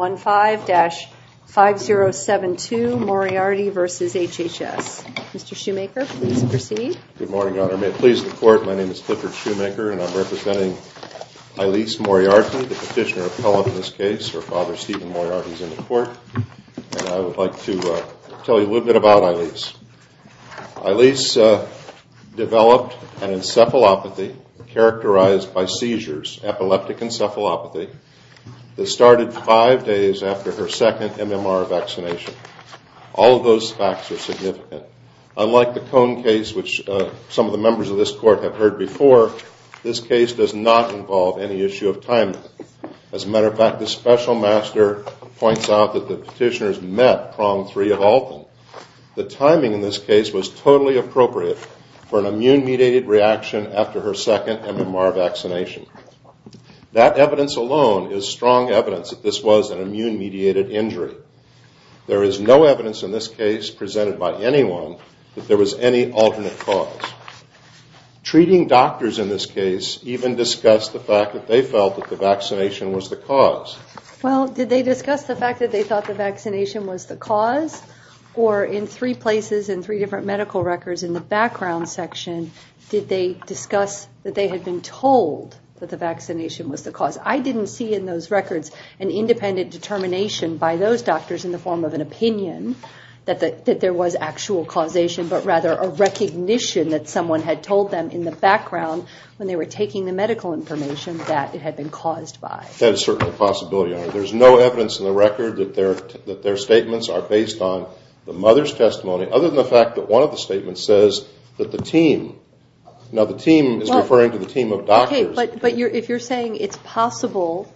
15-5072 Moriarty v. HHS. Mr. Shoemaker, please proceed. Good morning, Your Honor. May it please the Court, my name is Clifford Shoemaker and I'm representing Eilis Moriarty, the petitioner appellant in this case. Her father, Stephen Moriarty, is in the Court. And I would like to tell you a little bit about Eilis. Eilis developed an encephalopathy characterized by seizures, epileptic encephalopathy, that started five days after her second MMR vaccination. All of those facts are significant. Unlike the Cohn case, which some of the members of this Court have heard before, this case does not involve any issue of timing. As a matter of fact, the special master points out that the petitioners met prong three of all of them. The timing in this case was totally appropriate for an immune-mediated reaction after her second MMR vaccination. That evidence alone is strong evidence that this was an immune-mediated injury. There is no evidence in this case presented by anyone that there was any alternate cause. Treating doctors in this case even discussed the fact that they felt that the vaccination was the cause. Well, did they discuss the fact that they thought the vaccination was the cause? Or in three places, in three different medical records, in the background section, did they discuss that they had been told that the vaccination was the cause? I didn't see in those records an independent determination by those doctors in the form of an opinion that there was actual causation, but rather a recognition that someone had told them in the background when they were taking the medical information that it had been caused by. That is certainly a possibility. There is no evidence in the record that their statements are based on the mother's testimony, other than the fact that one of the statements says that the team, now the team is referring to the team of doctors. Okay, but if you're saying it's possible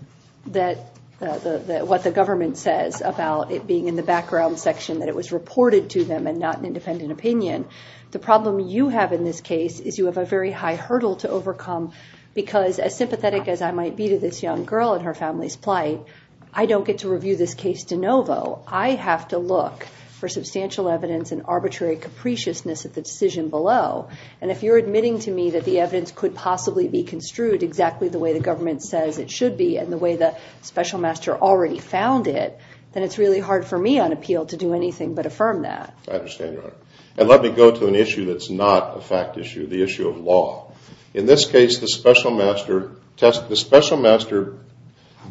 that what the government says about it being in the background section, that it was reported to them and not an independent opinion, the problem you have in this case is you have a very high hurdle to overcome, because as sympathetic as I might be to this young girl and her family's plight, I don't get to review this case de novo. I have to look for substantial evidence and arbitrary capriciousness at the decision below. And if you're admitting to me that the evidence could possibly be construed exactly the way the government says it should be and the way the special master already found it, then it's really hard for me on appeal to do anything but affirm that. I understand, Your Honor. And let me go to an issue that's not a fact issue, the issue of law. In this case, the special master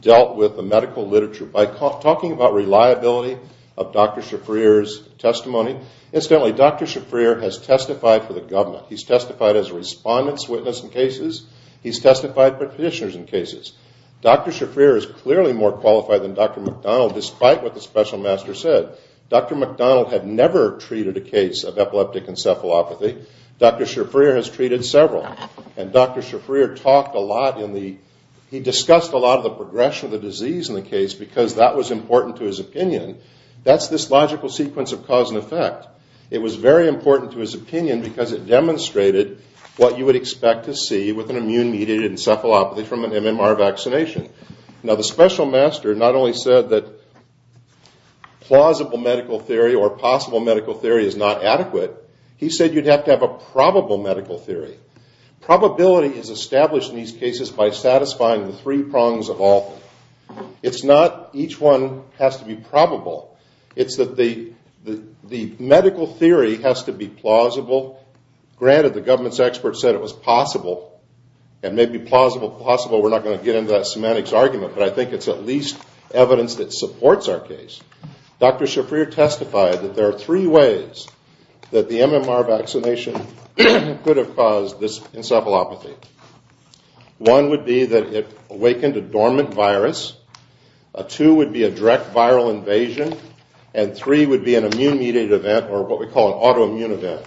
dealt with the medical literature by talking about reliability of Dr. Shafrir's testimony. Incidentally, Dr. Shafrir has testified for the government. He's testified as a respondent's witness in cases. He's testified for petitioners in cases. Dr. Shafrir is clearly more qualified than Dr. McDonald, despite what the special master said. Dr. McDonald had never treated a case of epileptic encephalopathy. Dr. Shafrir has treated several. And Dr. Shafrir talked a lot in the – he discussed a lot of the progression of the disease in the case because that was important to his opinion. That's this logical sequence of cause and effect. It was very important to his opinion because it demonstrated what you would expect to see with an immune-mediated encephalopathy from an MMR vaccination. Now, the special master not only said that plausible medical theory or possible medical theory is not adequate, he said you'd have to have a probable medical theory. Probability is established in these cases by satisfying the three prongs of all. It's not each one has to be probable. It's that the medical theory has to be plausible. Granted, the government's experts said it was possible. And maybe plausible, possible, we're not going to get into that semantics argument, but I think it's at least evidence that supports our case. Dr. Shafrir testified that there are three ways that the MMR vaccination could have caused this encephalopathy. One would be that it awakened a dormant virus. Two would be a direct viral invasion. And three would be an immune-mediated event or what we call an autoimmune event.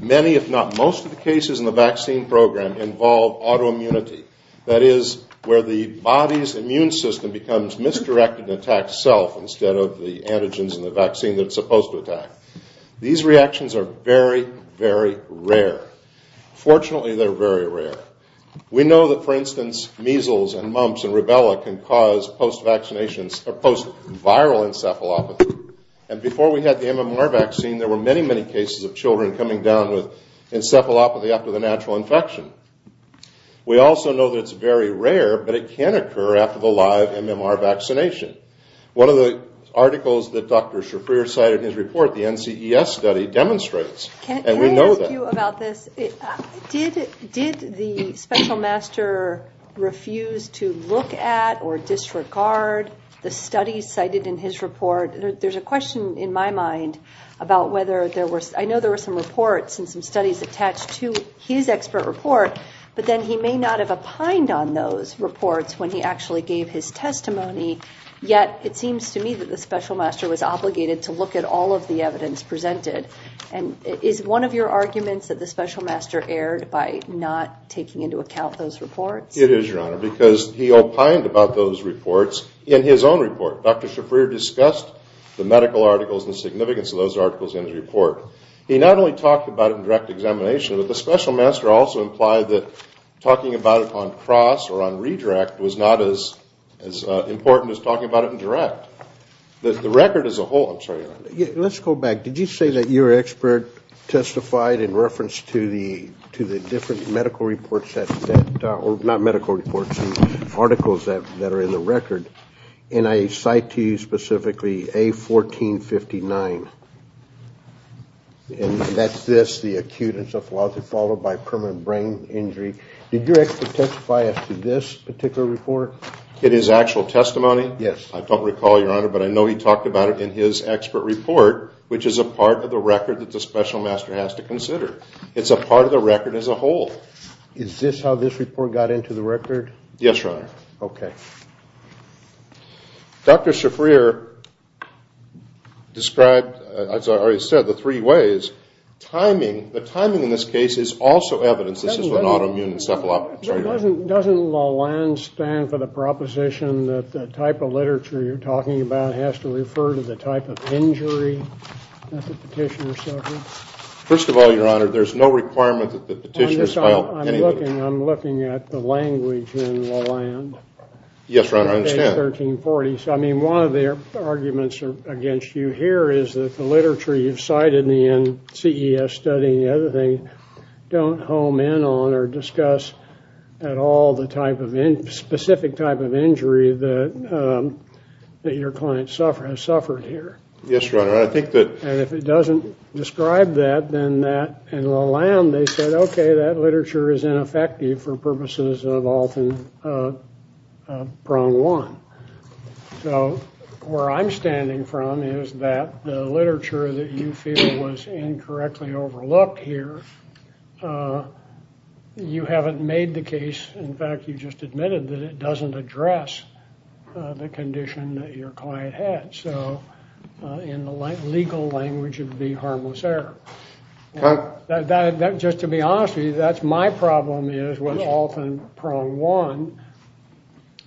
Many, if not most, of the cases in the vaccine program involve autoimmunity. That is, where the body's immune system becomes misdirected and attacks self instead of the antigens in the vaccine that it's supposed to attack. These reactions are very, very rare. Fortunately, they're very rare. We know that, for instance, measles and mumps and rubella can cause post-vaccinations or post-viral encephalopathy. And before we had the MMR vaccine, there were many, many cases of children coming down with encephalopathy after the natural infection. We also know that it's very rare, but it can occur after the live MMR vaccination. One of the articles that Dr. Shafrir cited in his report, the NCES study, demonstrates, and we know that. Can I ask you about this? Did the special master refuse to look at or disregard the studies cited in his report? There's a question in my mind about whether there were – but then he may not have opined on those reports when he actually gave his testimony, yet it seems to me that the special master was obligated to look at all of the evidence presented. And is one of your arguments that the special master erred by not taking into account those reports? It is, Your Honor, because he opined about those reports in his own report. Dr. Shafrir discussed the medical articles and the significance of those articles in his report. He not only talked about it in direct examination, but the special master also implied that talking about it on cross or on redirect was not as important as talking about it in direct. The record as a whole – I'm sorry, Your Honor. Let's go back. Did you say that your expert testified in reference to the different medical reports that – and that's this, the acute encephalopathy followed by permanent brain injury. Did your expert testify as to this particular report? In his actual testimony? I don't recall, Your Honor, but I know he talked about it in his expert report, which is a part of the record that the special master has to consider. It's a part of the record as a whole. Is this how this report got into the record? Yes, Your Honor. Okay. Dr. Shafrir described, as I already said, the three ways. Timing, the timing in this case is also evidence. This is when autoimmune encephalopathy – Doesn't LALAND stand for the proposition that the type of literature you're talking about has to refer to the type of injury that the petitioner suffers? First of all, Your Honor, there's no requirement that the petitioner – I'm looking at the language in LALAND. Yes, Your Honor, I understand. I mean, one of the arguments against you here is that the literature you've cited in CES study and the other thing don't hone in on or discuss at all the specific type of injury that your client has suffered here. Yes, Your Honor, I think that – And if it doesn't describe that, then that – in LALAND, they said, okay, that literature is ineffective for purposes of often prone one. So where I'm standing from is that the literature that you feel was incorrectly overlooked here, you haven't made the case. In fact, you just admitted that it doesn't address the condition that your client had. So in the legal language, it would be harmless error. Just to be honest with you, that's my problem is with often prone one.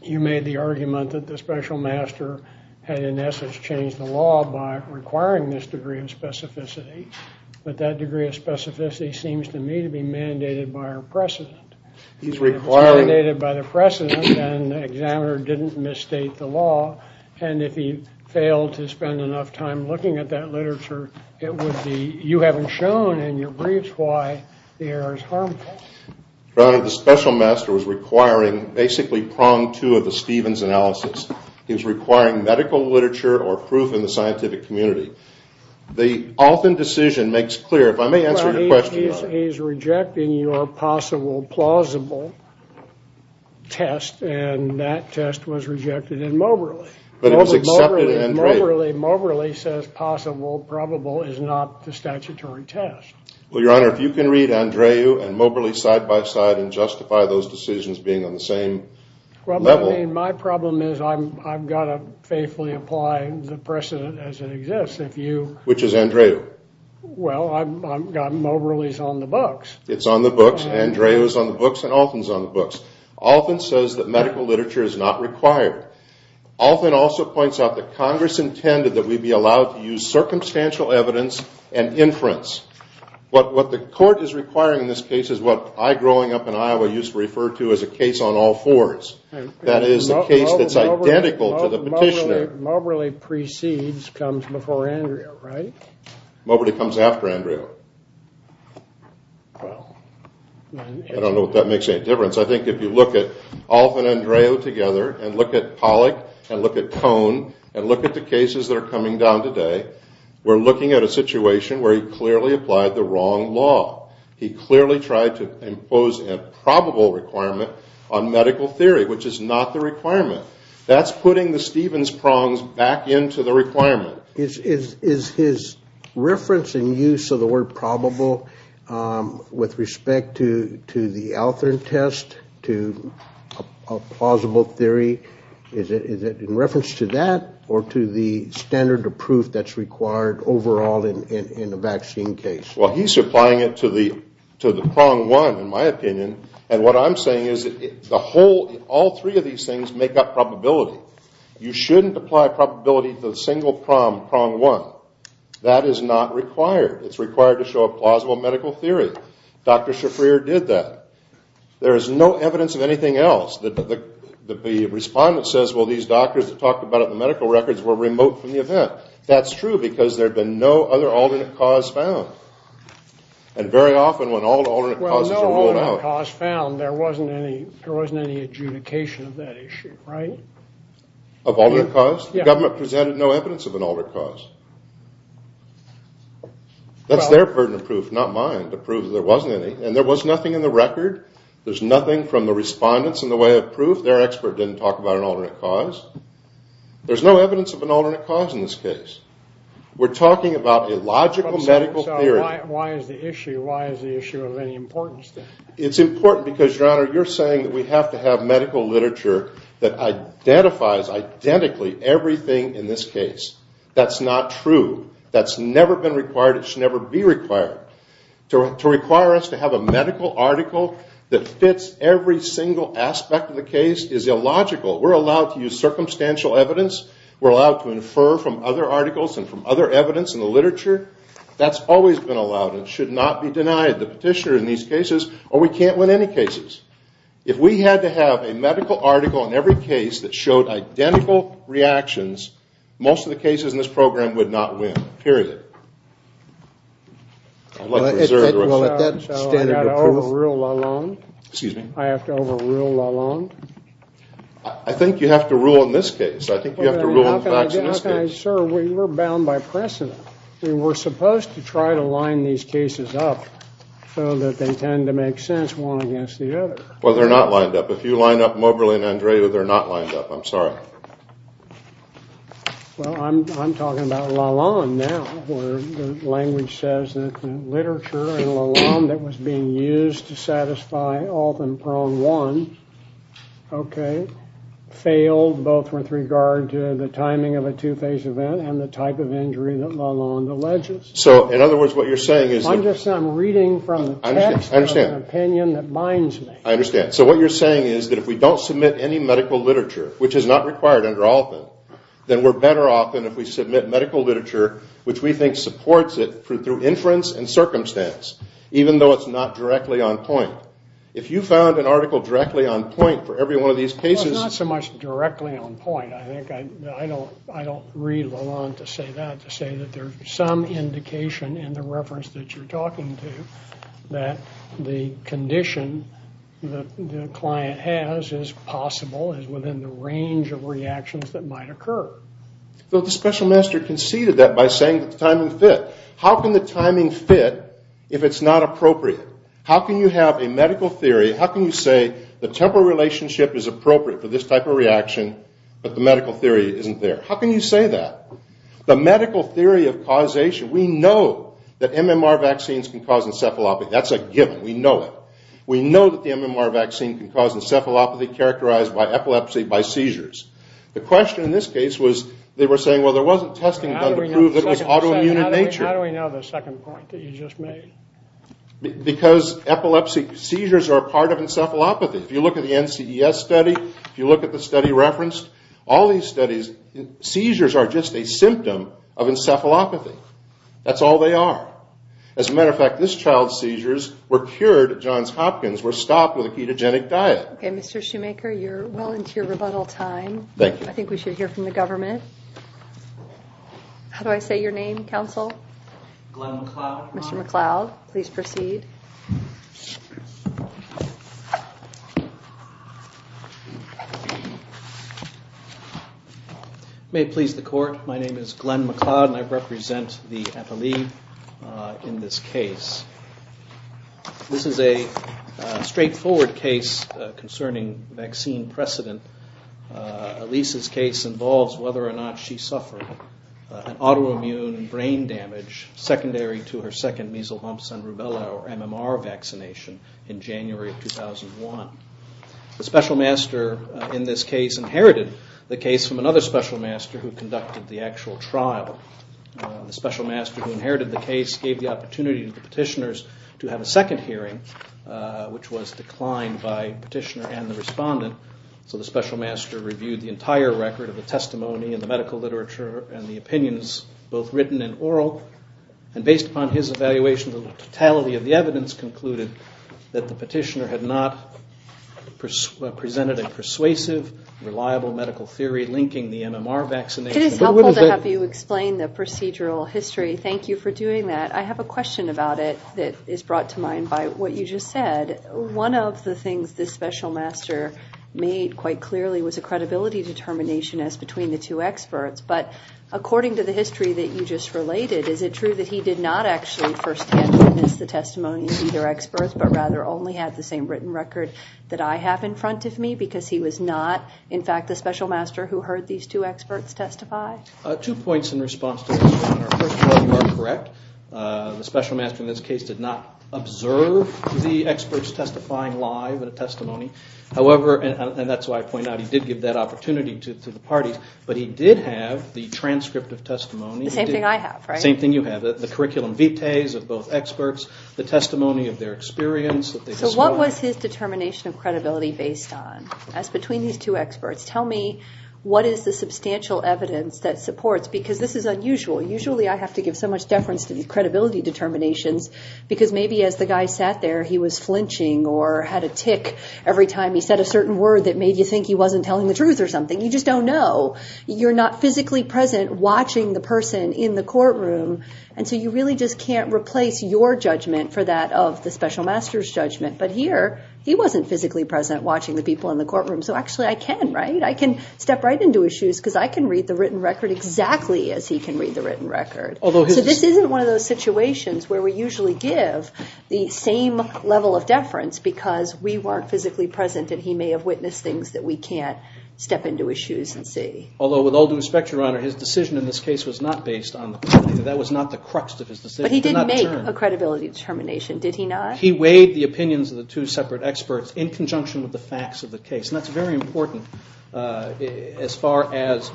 You made the argument that the special master had in essence changed the law by requiring this degree of specificity, but that degree of specificity seems to me to be mandated by our precedent. If it's mandated by the precedent, then the examiner didn't misstate the law, and if he failed to spend enough time looking at that literature, it would be you haven't shown in your briefs why the error is harmful. Your Honor, the special master was requiring basically prong two of the Stevens analysis. He was requiring medical literature or proof in the scientific community. The often decision makes clear – if I may answer your question, Your Honor. Well, he's rejecting your possible plausible test, and that test was rejected in Moberly. But it was accepted in Andrade. Moberly says possible probable is not the statutory test. Well, Your Honor, if you can read Andrade and Moberly side by side and justify those decisions being on the same level. My problem is I've got to faithfully apply the precedent as it exists. Which is Andrade? Well, Moberly is on the books. It's on the books, Andrade is on the books, and Alton is on the books. Alton says that medical literature is not required. Alton also points out that Congress intended that we be allowed to use circumstantial evidence and inference. What the court is requiring in this case is what I, growing up in Iowa, used to refer to as a case on all fours. That is a case that's identical to the petitioner. Moberly precedes, comes before Andrade, right? Moberly comes after Andrade. I don't know if that makes any difference. I think if you look at Alton and Andrade together, and look at Pollock, and look at Tone, and look at the cases that are coming down today, we're looking at a situation where he clearly applied the wrong law. He clearly tried to impose a probable requirement on medical theory, which is not the requirement. That's putting the Stevens prongs back into the requirement. Is his reference and use of the word probable with respect to the Alton test, to a plausible theory, is it in reference to that, or to the standard of proof that's required overall in a vaccine case? Well, he's applying it to the prong one, in my opinion, and what I'm saying is all three of these things make up probability. You shouldn't apply probability to a single prong, prong one. That is not required. It's required to show a plausible medical theory. Dr. Shafrir did that. There is no evidence of anything else that the respondent says, well, these doctors that talked about it in the medical records were remote from the event. That's true because there had been no other alternate cause found, and very often when alternate causes are ruled out. Alternate cause found, there wasn't any adjudication of that issue, right? Of alternate cause? The government presented no evidence of an alternate cause. That's their burden of proof, not mine, to prove that there wasn't any, and there was nothing in the record. There's nothing from the respondents in the way of proof. Their expert didn't talk about an alternate cause. There's no evidence of an alternate cause in this case. We're talking about a logical medical theory. Why is the issue of any importance? It's important because, Your Honor, you're saying that we have to have medical literature that identifies identically everything in this case. That's not true. That's never been required. It should never be required. To require us to have a medical article that fits every single aspect of the case is illogical. We're allowed to use circumstantial evidence. We're allowed to infer from other articles and from other evidence in the literature. That's always been allowed. It should not be denied the petitioner in these cases, or we can't win any cases. If we had to have a medical article in every case that showed identical reactions, most of the cases in this program would not win, period. I'd like to reserve the rest. So I've got to overrule LaLonde? Excuse me? I have to overrule LaLonde? I think you have to rule in this case. I think you have to rule in the facts in this case. Okay, sir, we were bound by precedent. We were supposed to try to line these cases up so that they tend to make sense one against the other. Well, they're not lined up. If you line up Moberly and Andrea, they're not lined up. I'm sorry. Well, I'm talking about LaLonde now, where the language says that the literature in LaLonde that was being used to satisfy Alt and Prong 1, okay, failed both with regard to the timing of a two-phase event and the type of injury that LaLonde alleges. So, in other words, what you're saying is that... I'm just reading from the text of an opinion that binds me. I understand. So what you're saying is that if we don't submit any medical literature, which is not required under Altman, then we're better off than if we submit medical literature, which we think supports it through inference and circumstance, even though it's not directly on point. If you found an article directly on point for every one of these cases... Well, it's not so much directly on point. I think I don't read LaLonde to say that, to say that there's some indication in the reference that you're talking to that the condition that the client has is possible, is within the range of reactions that might occur. Well, the special master conceded that by saying that the timing fit. How can the timing fit if it's not appropriate? How can you have a medical theory? How can you say the temporal relationship is appropriate for this type of reaction, but the medical theory isn't there? How can you say that? The medical theory of causation. We know that MMR vaccines can cause encephalopathy. That's a given. We know it. We know that the MMR vaccine can cause encephalopathy characterized by epilepsy, by seizures. The question in this case was, they were saying, well, there wasn't testing done to prove that it was autoimmune in nature. How do we know the second point that you just made? Because seizures are a part of encephalopathy. If you look at the NCES study, if you look at the study referenced, all these studies, seizures are just a symptom of encephalopathy. That's all they are. As a matter of fact, this child's seizures were cured at Johns Hopkins, were stopped with a ketogenic diet. Okay, Mr. Shoemaker, you're well into your rebuttal time. Thank you. I think we should hear from the government. How do I say your name, counsel? Glenn McCloud. Mr. McCloud, please proceed. May it please the court, my name is Glenn McCloud and I represent the NLE in this case. This is a straightforward case concerning vaccine precedent. Elisa's case involves whether or not she suffered an autoimmune brain damage secondary to her second measles, mumps, and rubella or MMR vaccination in January of 2001. The special master in this case inherited the case from another special master who conducted the actual trial. The special master who inherited the case gave the opportunity to the petitioners to have a second hearing, which was declined by the petitioner and the respondent. So the special master reviewed the entire record of the testimony and the medical literature and the opinions, both written and oral. And based upon his evaluation, the totality of the evidence concluded that the petitioner had not presented a persuasive, reliable medical theory linking the MMR vaccination. It is helpful to have you explain the procedural history. Thank you for doing that. I have a question about it that is brought to mind by what you just said. One of the things this special master made quite clearly was a credibility determination as between the two experts. But according to the history that you just related, is it true that he did not actually first hand witness the testimony of either experts, but rather only had the same written record that I have in front of me because he was not, in fact, the special master who heard these two experts testify? Two points in response to this. First of all, you are correct. The special master in this case did not observe the experts testifying live in a testimony. However, and that's why I point out, he did give that opportunity to the parties. But he did have the transcript of testimony. The same thing I have, right? The same thing you have. The curriculum vites of both experts, the testimony of their experience. So what was his determination of credibility based on? As between these two experts. Tell me what is the substantial evidence that supports, because this is unusual. Usually I have to give so much deference to credibility determinations because maybe as the guy sat there, he was flinching or had a tick every time he said a certain word that made you think he wasn't telling the truth or something. You just don't know. You're not physically present watching the person in the courtroom. And so you really just can't replace your judgment for that of the special master's judgment. But here, he wasn't physically present watching the people in the courtroom. So actually I can, right? Because I can read the written record exactly as he can read the written record. So this isn't one of those situations where we usually give the same level of deference because we weren't physically present and he may have witnessed things that we can't step into his shoes and see. Although with all due respect, Your Honor, his decision in this case was not based on the fact that that was not the crux of his decision. But he didn't make a credibility determination, did he not? He weighed the opinions of the two separate experts in conjunction with the facts of the case. And that's very important as far as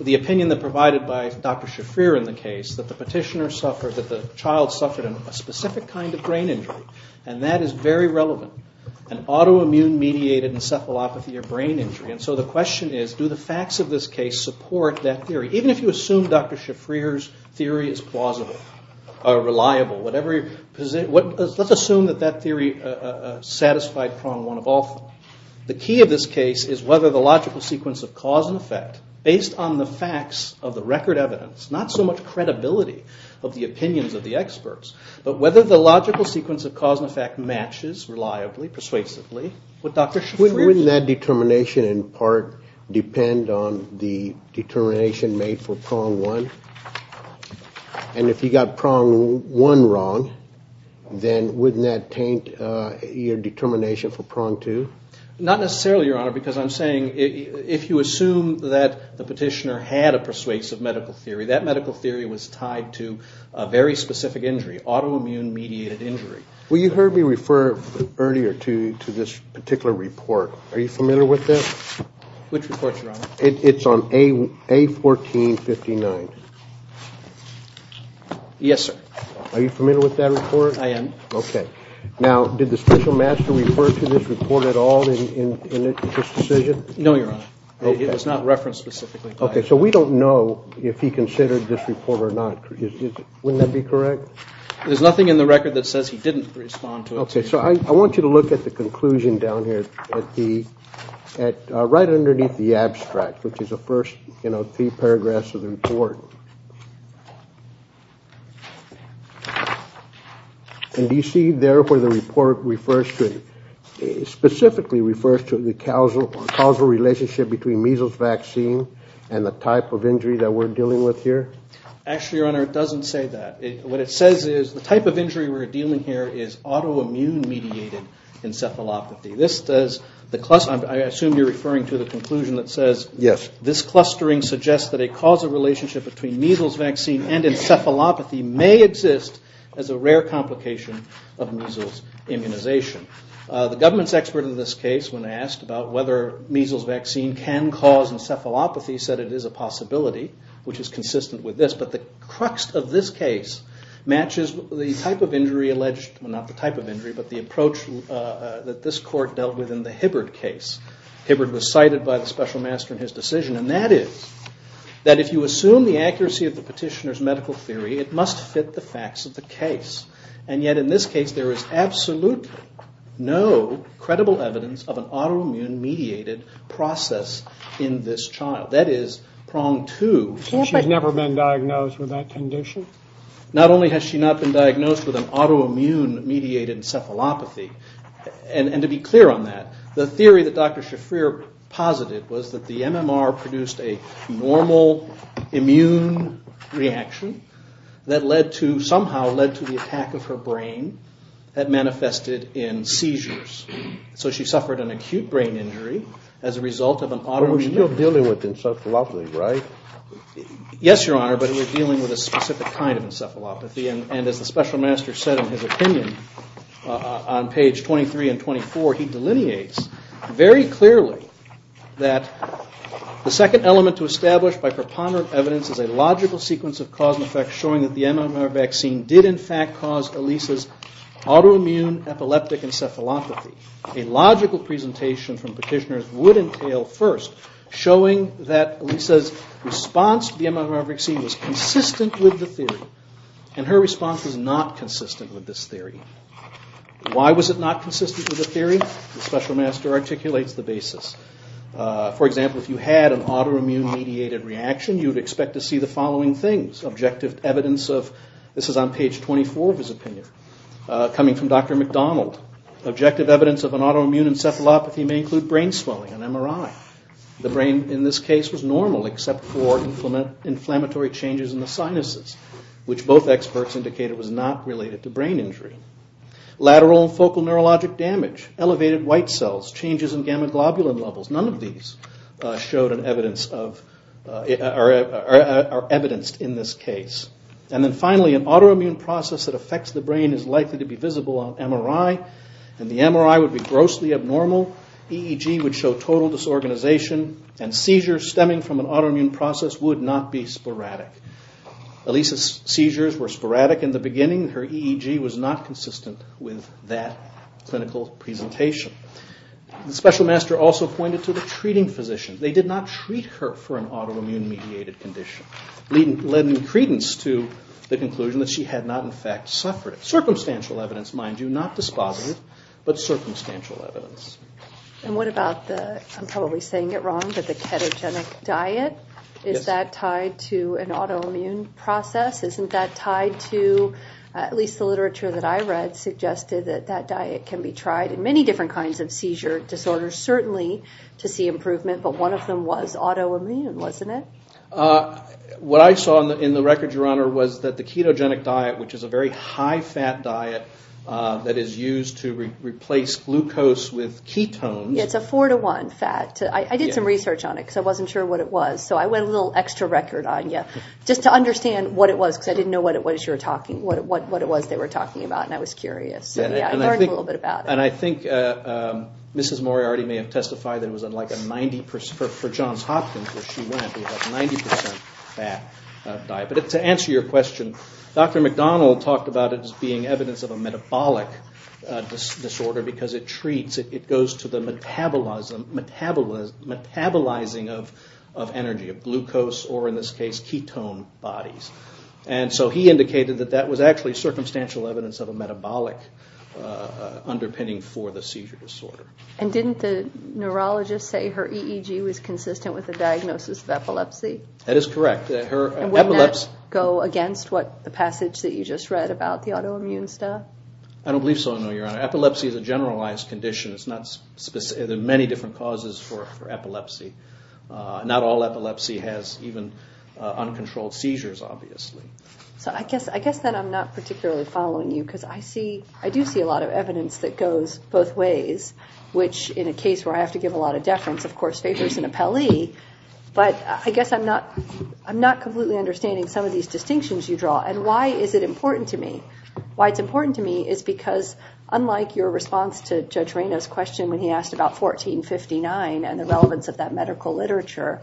the opinion that provided by Dr. Shafrir in the case that the petitioner suffered, that the child suffered a specific kind of brain injury. And that is very relevant, an autoimmune-mediated encephalopathy or brain injury. And so the question is, do the facts of this case support that theory? Even if you assume Dr. Shafrir's theory is plausible or reliable, let's assume that that theory satisfied prong one of all. The key of this case is whether the logical sequence of cause and effect, based on the facts of the record evidence, not so much credibility of the opinions of the experts, but whether the logical sequence of cause and effect matches reliably, persuasively with Dr. Shafrir's. Would that determination in part depend on the determination made for prong one? And if you got prong one wrong, then wouldn't that taint your determination for prong two? Not necessarily, Your Honor, because I'm saying if you assume that the petitioner had a persuasive medical theory, that medical theory was tied to a very specific injury, autoimmune-mediated injury. Well, you heard me refer earlier to this particular report. Are you familiar with that? Which report, Your Honor? It's on A1459. Yes, sir. Are you familiar with that report? I am. Okay. Now, did the special master refer to this report at all in this decision? No, Your Honor. Okay. It was not referenced specifically. Okay. So we don't know if he considered this report or not. Wouldn't that be correct? There's nothing in the record that says he didn't respond to it. Okay. So I want you to look at the conclusion down here right underneath the abstract, which is the first three paragraphs of the report. And do you see there where the report specifically refers to the causal relationship between measles vaccine and the type of injury that we're dealing with here? Actually, Your Honor, it doesn't say that. What it says is the type of injury we're dealing here is autoimmune-mediated encephalopathy. I assume you're referring to the conclusion that says this clustering suggests that a causal relationship between measles vaccine and encephalopathy may exist as a rare complication of measles immunization. The government's expert in this case, when asked about whether measles vaccine can cause encephalopathy, said it is a possibility, which is consistent with this. But the crux of this case matches the approach that this court dealt with in the Hibbard case. Hibbard was cited by the special master in his decision, and that is that if you assume the accuracy of the petitioner's medical theory, it must fit the facts of the case. And yet in this case there is absolutely no credible evidence of an autoimmune-mediated process in this child. That is prong two. She's never been diagnosed with that condition? Not only has she not been diagnosed with an autoimmune-mediated encephalopathy, and to be clear on that, the theory that Dr. Shafrir posited was that the MMR produced a normal immune reaction that led to somehow led to the attack of her brain that manifested in seizures. So she suffered an acute brain injury as a result of an autoimmune- You're dealing with encephalopathy, right? Yes, Your Honor, but we're dealing with a specific kind of encephalopathy, and as the special master said in his opinion on page 23 and 24, he delineates very clearly that the second element to establish by preponderant evidence is a logical sequence of cause and effect showing that the MMR vaccine did in fact cause Elisa's autoimmune-epileptic encephalopathy. A logical presentation from petitioners would entail first showing that Elisa's response to the MMR vaccine was consistent with the theory, and her response was not consistent with this theory. Why was it not consistent with the theory? The special master articulates the basis. For example, if you had an autoimmune-mediated reaction, you'd expect to see the following things. Objective evidence of- this is on page 24 of his opinion, coming from Dr. McDonald. Objective evidence of an autoimmune encephalopathy may include brain swelling, an MRI. The brain in this case was normal except for inflammatory changes in the sinuses, which both experts indicated was not related to brain injury. Lateral and focal neurologic damage, elevated white cells, changes in gamma globulin levels, none of these are evidenced in this case. And then finally, an autoimmune process that affects the brain is likely to be visible on MRI, and the MRI would be grossly abnormal, EEG would show total disorganization, and seizures stemming from an autoimmune process would not be sporadic. Elisa's seizures were sporadic in the beginning. Her EEG was not consistent with that clinical presentation. The special master also pointed to the treating physician. They did not treat her for an autoimmune-mediated condition. Lending credence to the conclusion that she had not in fact suffered. Circumstantial evidence, mind you, not dispositive, but circumstantial evidence. And what about the- I'm probably saying it wrong, but the ketogenic diet? Is that tied to an autoimmune process? Isn't that tied to- at least the literature that I read suggested that that diet can be tried in many different kinds of seizure disorders, certainly to see improvement, but one of them was autoimmune, wasn't it? What I saw in the record, Your Honor, was that the ketogenic diet, which is a very high-fat diet that is used to replace glucose with ketones- Yeah, it's a four-to-one fat. I did some research on it because I wasn't sure what it was, so I went a little extra record on you just to understand what it was because I didn't know what it was they were talking about, and I was curious. So yeah, I learned a little bit about it. And I think Mrs. Moriarty may have testified that it was like a 90%- for Johns Hopkins, where she went, it was a 90% fat diet. But to answer your question, Dr. McDonald talked about it as being evidence of a metabolic disorder because it goes to the metabolizing of energy, of glucose or, in this case, ketone bodies. And so he indicated that that was actually circumstantial evidence of a metabolic underpinning for the seizure disorder. And didn't the neurologist say her EEG was consistent with the diagnosis of epilepsy? That is correct. And wouldn't that go against the passage that you just read about the autoimmune stuff? I don't believe so, no, Your Honor. Epilepsy is a generalized condition. There are many different causes for epilepsy. Not all epilepsy has even uncontrolled seizures, obviously. So I guess then I'm not particularly following you because I do see a lot of evidence that goes both ways, which in a case where I have to give a lot of deference, of course, favors an appellee. But I guess I'm not completely understanding some of these distinctions you draw. And why is it important to me? Why it's important to me is because, unlike your response to Judge Reina's question when he asked about 1459 and the relevance of that medical literature,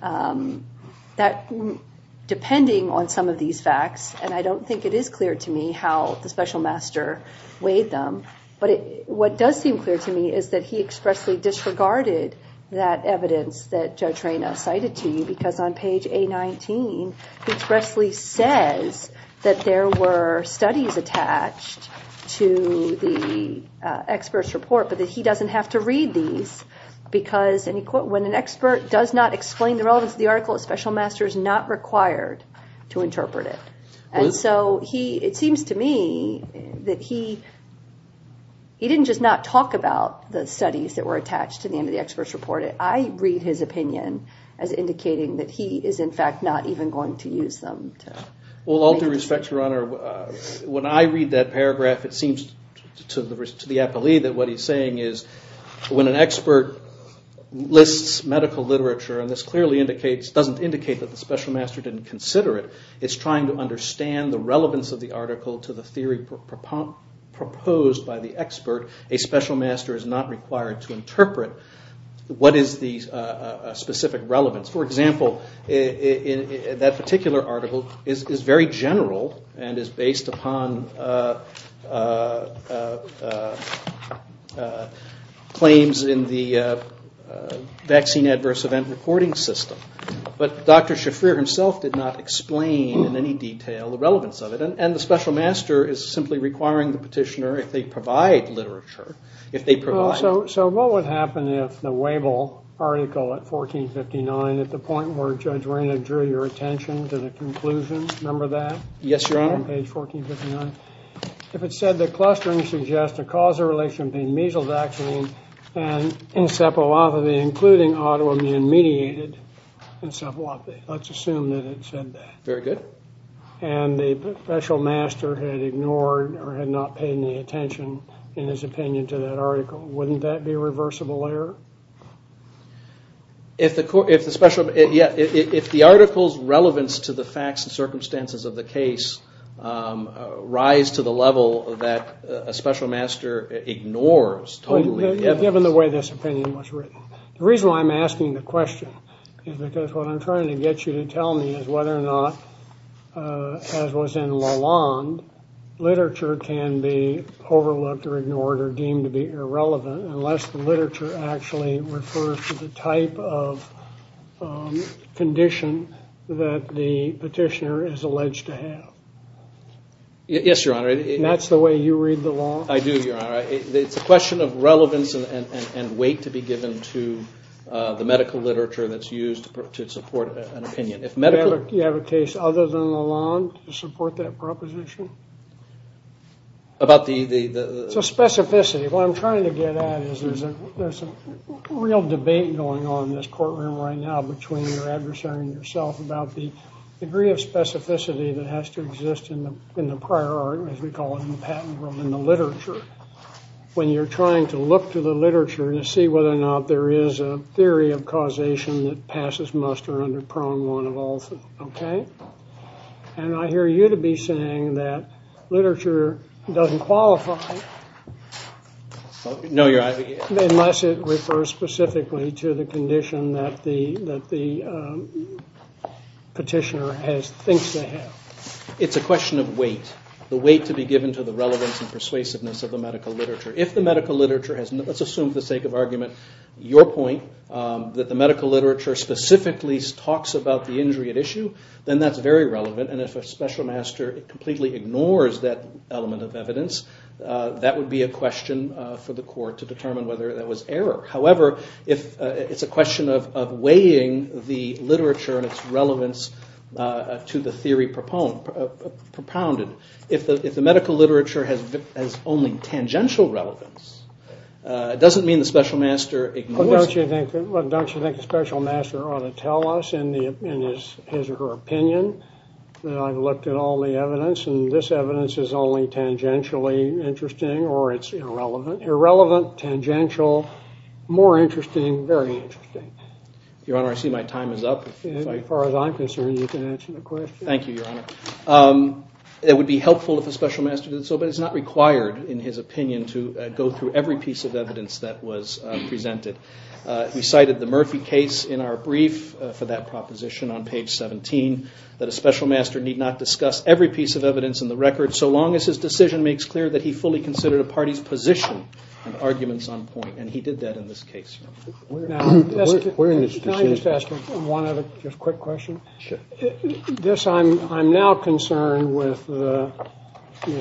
that depending on some of these facts, and I don't think it is clear to me how the special master weighed them, but what does seem clear to me is that he expressly disregarded that evidence that Judge Reina cited to you because on page A19, he expressly says that there were studies attached to the expert's report but that he doesn't have to read these because when an expert does not explain the relevance of the article, a special master is not required to interpret it. And so it seems to me that he didn't just not talk about the studies that were attached to the end of the expert's report. I read his opinion as indicating that he is, in fact, not even going to use them. Well, all due respect, Your Honor, when I read that paragraph, it seems to the appellee that what he's saying is when an expert lists medical literature, and this clearly doesn't indicate that the special master didn't consider it, it's trying to understand the relevance of the article to the theory proposed by the expert, a special master is not required to interpret what is the specific relevance. For example, that particular article is very general and is based upon claims in the vaccine adverse event reporting system. But Dr. Shafir himself did not explain in any detail the relevance of it. And the special master is simply requiring the petitioner, if they provide literature, if they provide it. So what would happen if the Wabel article at 1459, at the point where Judge Reyna drew your attention to the conclusion, remember that? Yes, Your Honor. If it said that clustering suggests a causal relation between measles vaccine and encephalopathy, including autoimmune mediated encephalopathy. Let's assume that it said that. Very good. And the special master had ignored or had not paid any attention in his opinion to that article. Wouldn't that be a reversible error? If the article's relevance to the facts and circumstances of the case rise to the level that a special master ignores totally, yes. Given the way this opinion was written. The reason why I'm asking the question is because what I'm trying to get you to tell me is whether or not, as was in Lalonde, literature can be overlooked or ignored or deemed to be irrelevant unless the literature actually refers to the type of condition that the petitioner is alleged to have. Yes, Your Honor. And that's the way you read the law? I do, Your Honor. It's a question of relevance and weight to be given to the medical literature that's used to support an opinion. You have a case other than Lalonde to support that proposition? About the... It's a specificity. What I'm trying to get at is there's a real debate going on in this courtroom right now between your adversary and yourself about the degree of specificity that has to exist in the prior art, as we call it in the patent world, in the literature. When you're trying to look to the literature to see whether or not there is a theory of causation that passes muster under prong one of all. And I hear you to be saying that literature doesn't qualify... No, Your Honor. ...unless it refers specifically to the condition that the petitioner thinks they have. It's a question of weight, the weight to be given to the relevance and persuasiveness of the medical literature. If the medical literature has... Let's assume, for the sake of argument, your point that the medical literature specifically talks about the injury at issue, then that's very relevant. And if a special master completely ignores that element of evidence, that would be a question for the court to determine whether that was error. However, it's a question of weighing the literature and its relevance to the theory propounded. If the medical literature has only tangential relevance, it doesn't mean the special master ignores... Don't you think the special master ought to tell us in his or her opinion that I've looked at all the evidence and this evidence is only tangentially interesting or it's irrelevant? Irrelevant, tangential, more interesting, very interesting. Your Honor, I see my time is up. As far as I'm concerned, you can answer the question. Thank you, Your Honor. It would be helpful if the special master did so, but it's not required in his opinion to go through every piece of evidence that was presented. He cited the Murphy case in our brief for that proposition on page 17, that a special master need not discuss every piece of evidence in the record so long as his decision makes clear that he fully considered a party's position and arguments on point, and he did that in this case. Can I just ask one other quick question? Sure. I'm now concerned with the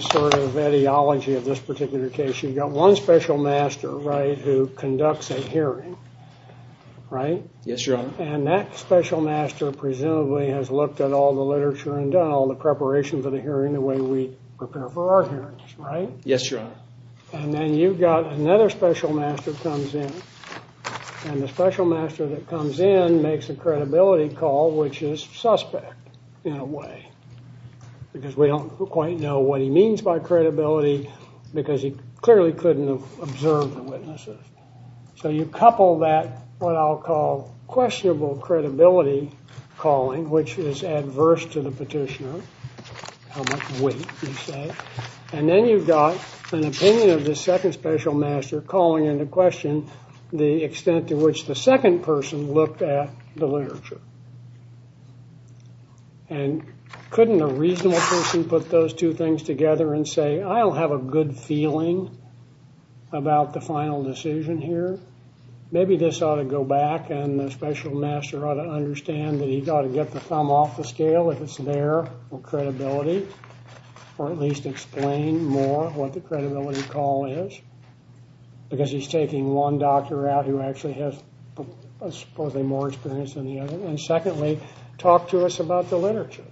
sort of ideology of this particular case. You've got one special master, right, who conducts a hearing, right? Yes, Your Honor. And that special master presumably has looked at all the literature and done all the preparation for the hearing the way we prepare for our hearings, right? Yes, Your Honor. And then you've got another special master comes in, and the special master that comes in makes a credibility call, which is suspect in a way because we don't quite know what he means by credibility because he clearly couldn't have observed the witnesses. So you couple that what I'll call questionable credibility calling, which is adverse to the petitioner, how much weight you say, and then you've got an opinion of the second special master calling into question the extent to which the second person looked at the literature. And couldn't a reasonable person put those two things together and say, I don't have a good feeling about the final decision here. Maybe this ought to go back and the special master ought to understand that he's got to get the thumb off the scale if it's there or credibility or at least explain more what the credibility call is because he's taking one doctor out who actually has supposedly more experience than the other. And secondly, talk to us about the literature.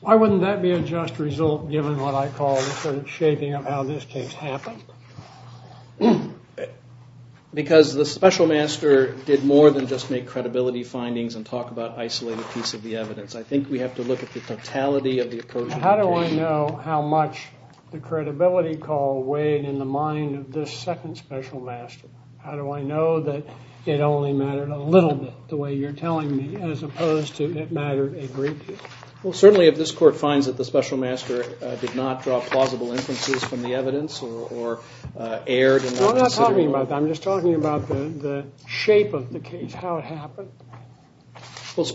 Why wouldn't that be a just result given what I call the shaping of how this case happened? Because the special master did more than just make credibility findings and talk about isolated piece of the evidence. I think we have to look at the totality of the approach. How do I know how much the credibility call weighed in the mind of this second special master? How do I know that it only mattered a little bit the way you're telling me as opposed to it mattered a great deal? Well, certainly if this court finds that the special master did not draw plausible inferences from the evidence or erred in that consideration. I'm not talking about that. I'm just talking about the shape of the case, how it happened. Well,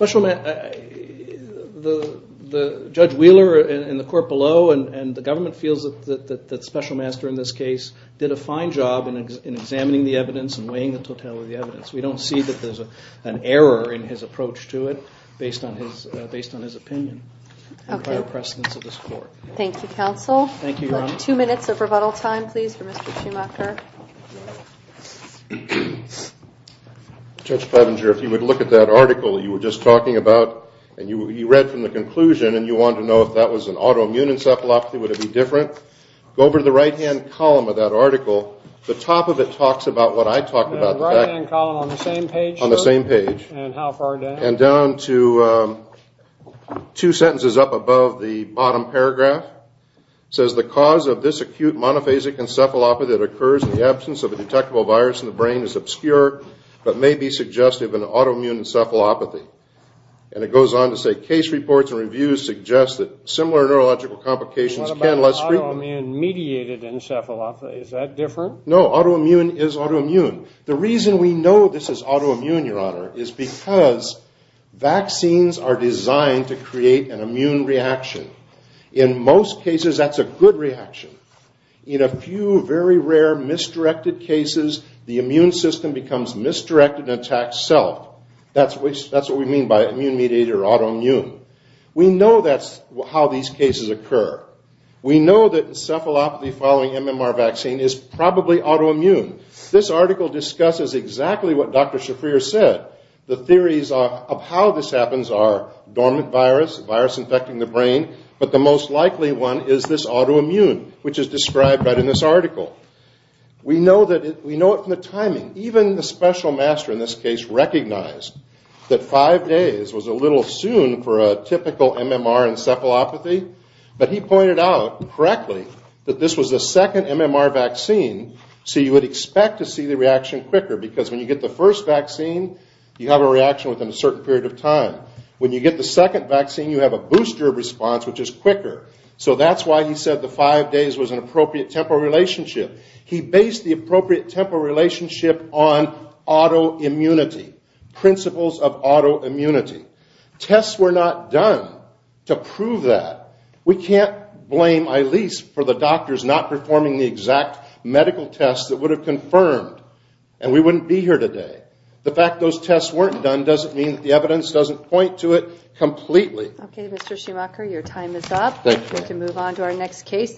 the judge Wheeler in the court below and the government feels that the special master in this case did a fine job in examining the evidence and weighing the totality of the evidence. We don't see that there's an error in his approach to it based on his opinion or prior precedence of this court. Thank you, counsel. Thank you, Your Honor. Two minutes of rebuttal time, please, for Mr. Schumacher. Judge Clevenger, if you would look at that article you were just talking about and you read from the conclusion and you wanted to know if that was an autoimmune encephalopathy, would it be different? Go over to the right-hand column of that article. The top of it talks about what I talked about. The right-hand column on the same page? On the same page. And how far down? And down to two sentences up above the bottom paragraph. It says, The cause of this acute monophasic encephalopathy that occurs in the absence of a detectable virus in the brain is obscure but may be suggestive of an autoimmune encephalopathy. And it goes on to say, Case reports and reviews suggest that similar neurological complications can less frequently What about autoimmune-mediated encephalopathy? Is that different? No, autoimmune is autoimmune. The reason we know this is autoimmune, Your Honor, is because vaccines are designed to create an immune reaction. In most cases, that's a good reaction. In a few very rare misdirected cases, the immune system becomes misdirected and attacks self. That's what we mean by immune-mediated or autoimmune. We know that's how these cases occur. We know that encephalopathy following MMR vaccine is probably autoimmune. This article discusses exactly what Dr. Shafrir said. The theories of how this happens are dormant virus, virus infecting the brain, but the most likely one is this autoimmune, which is described right in this article. We know it from the timing. Even the special master in this case recognized that five days was a little soon for a typical MMR encephalopathy, but he pointed out correctly that this was the second MMR vaccine, so you would expect to see the reaction quicker because when you get the first vaccine, you have a reaction within a certain period of time. When you get the second vaccine, you have a booster response, which is quicker. So that's why he said the five days was an appropriate temporal relationship. He based the appropriate temporal relationship on autoimmunity, principles of autoimmunity. Tests were not done to prove that. We can't blame Eilis for the doctors not performing the exact medical tests that would have confirmed, and we wouldn't be here today. The fact those tests weren't done doesn't mean that the evidence doesn't point to it completely. Okay, Mr. Schumacher, your time is up. Thank you. We can move on to our next case.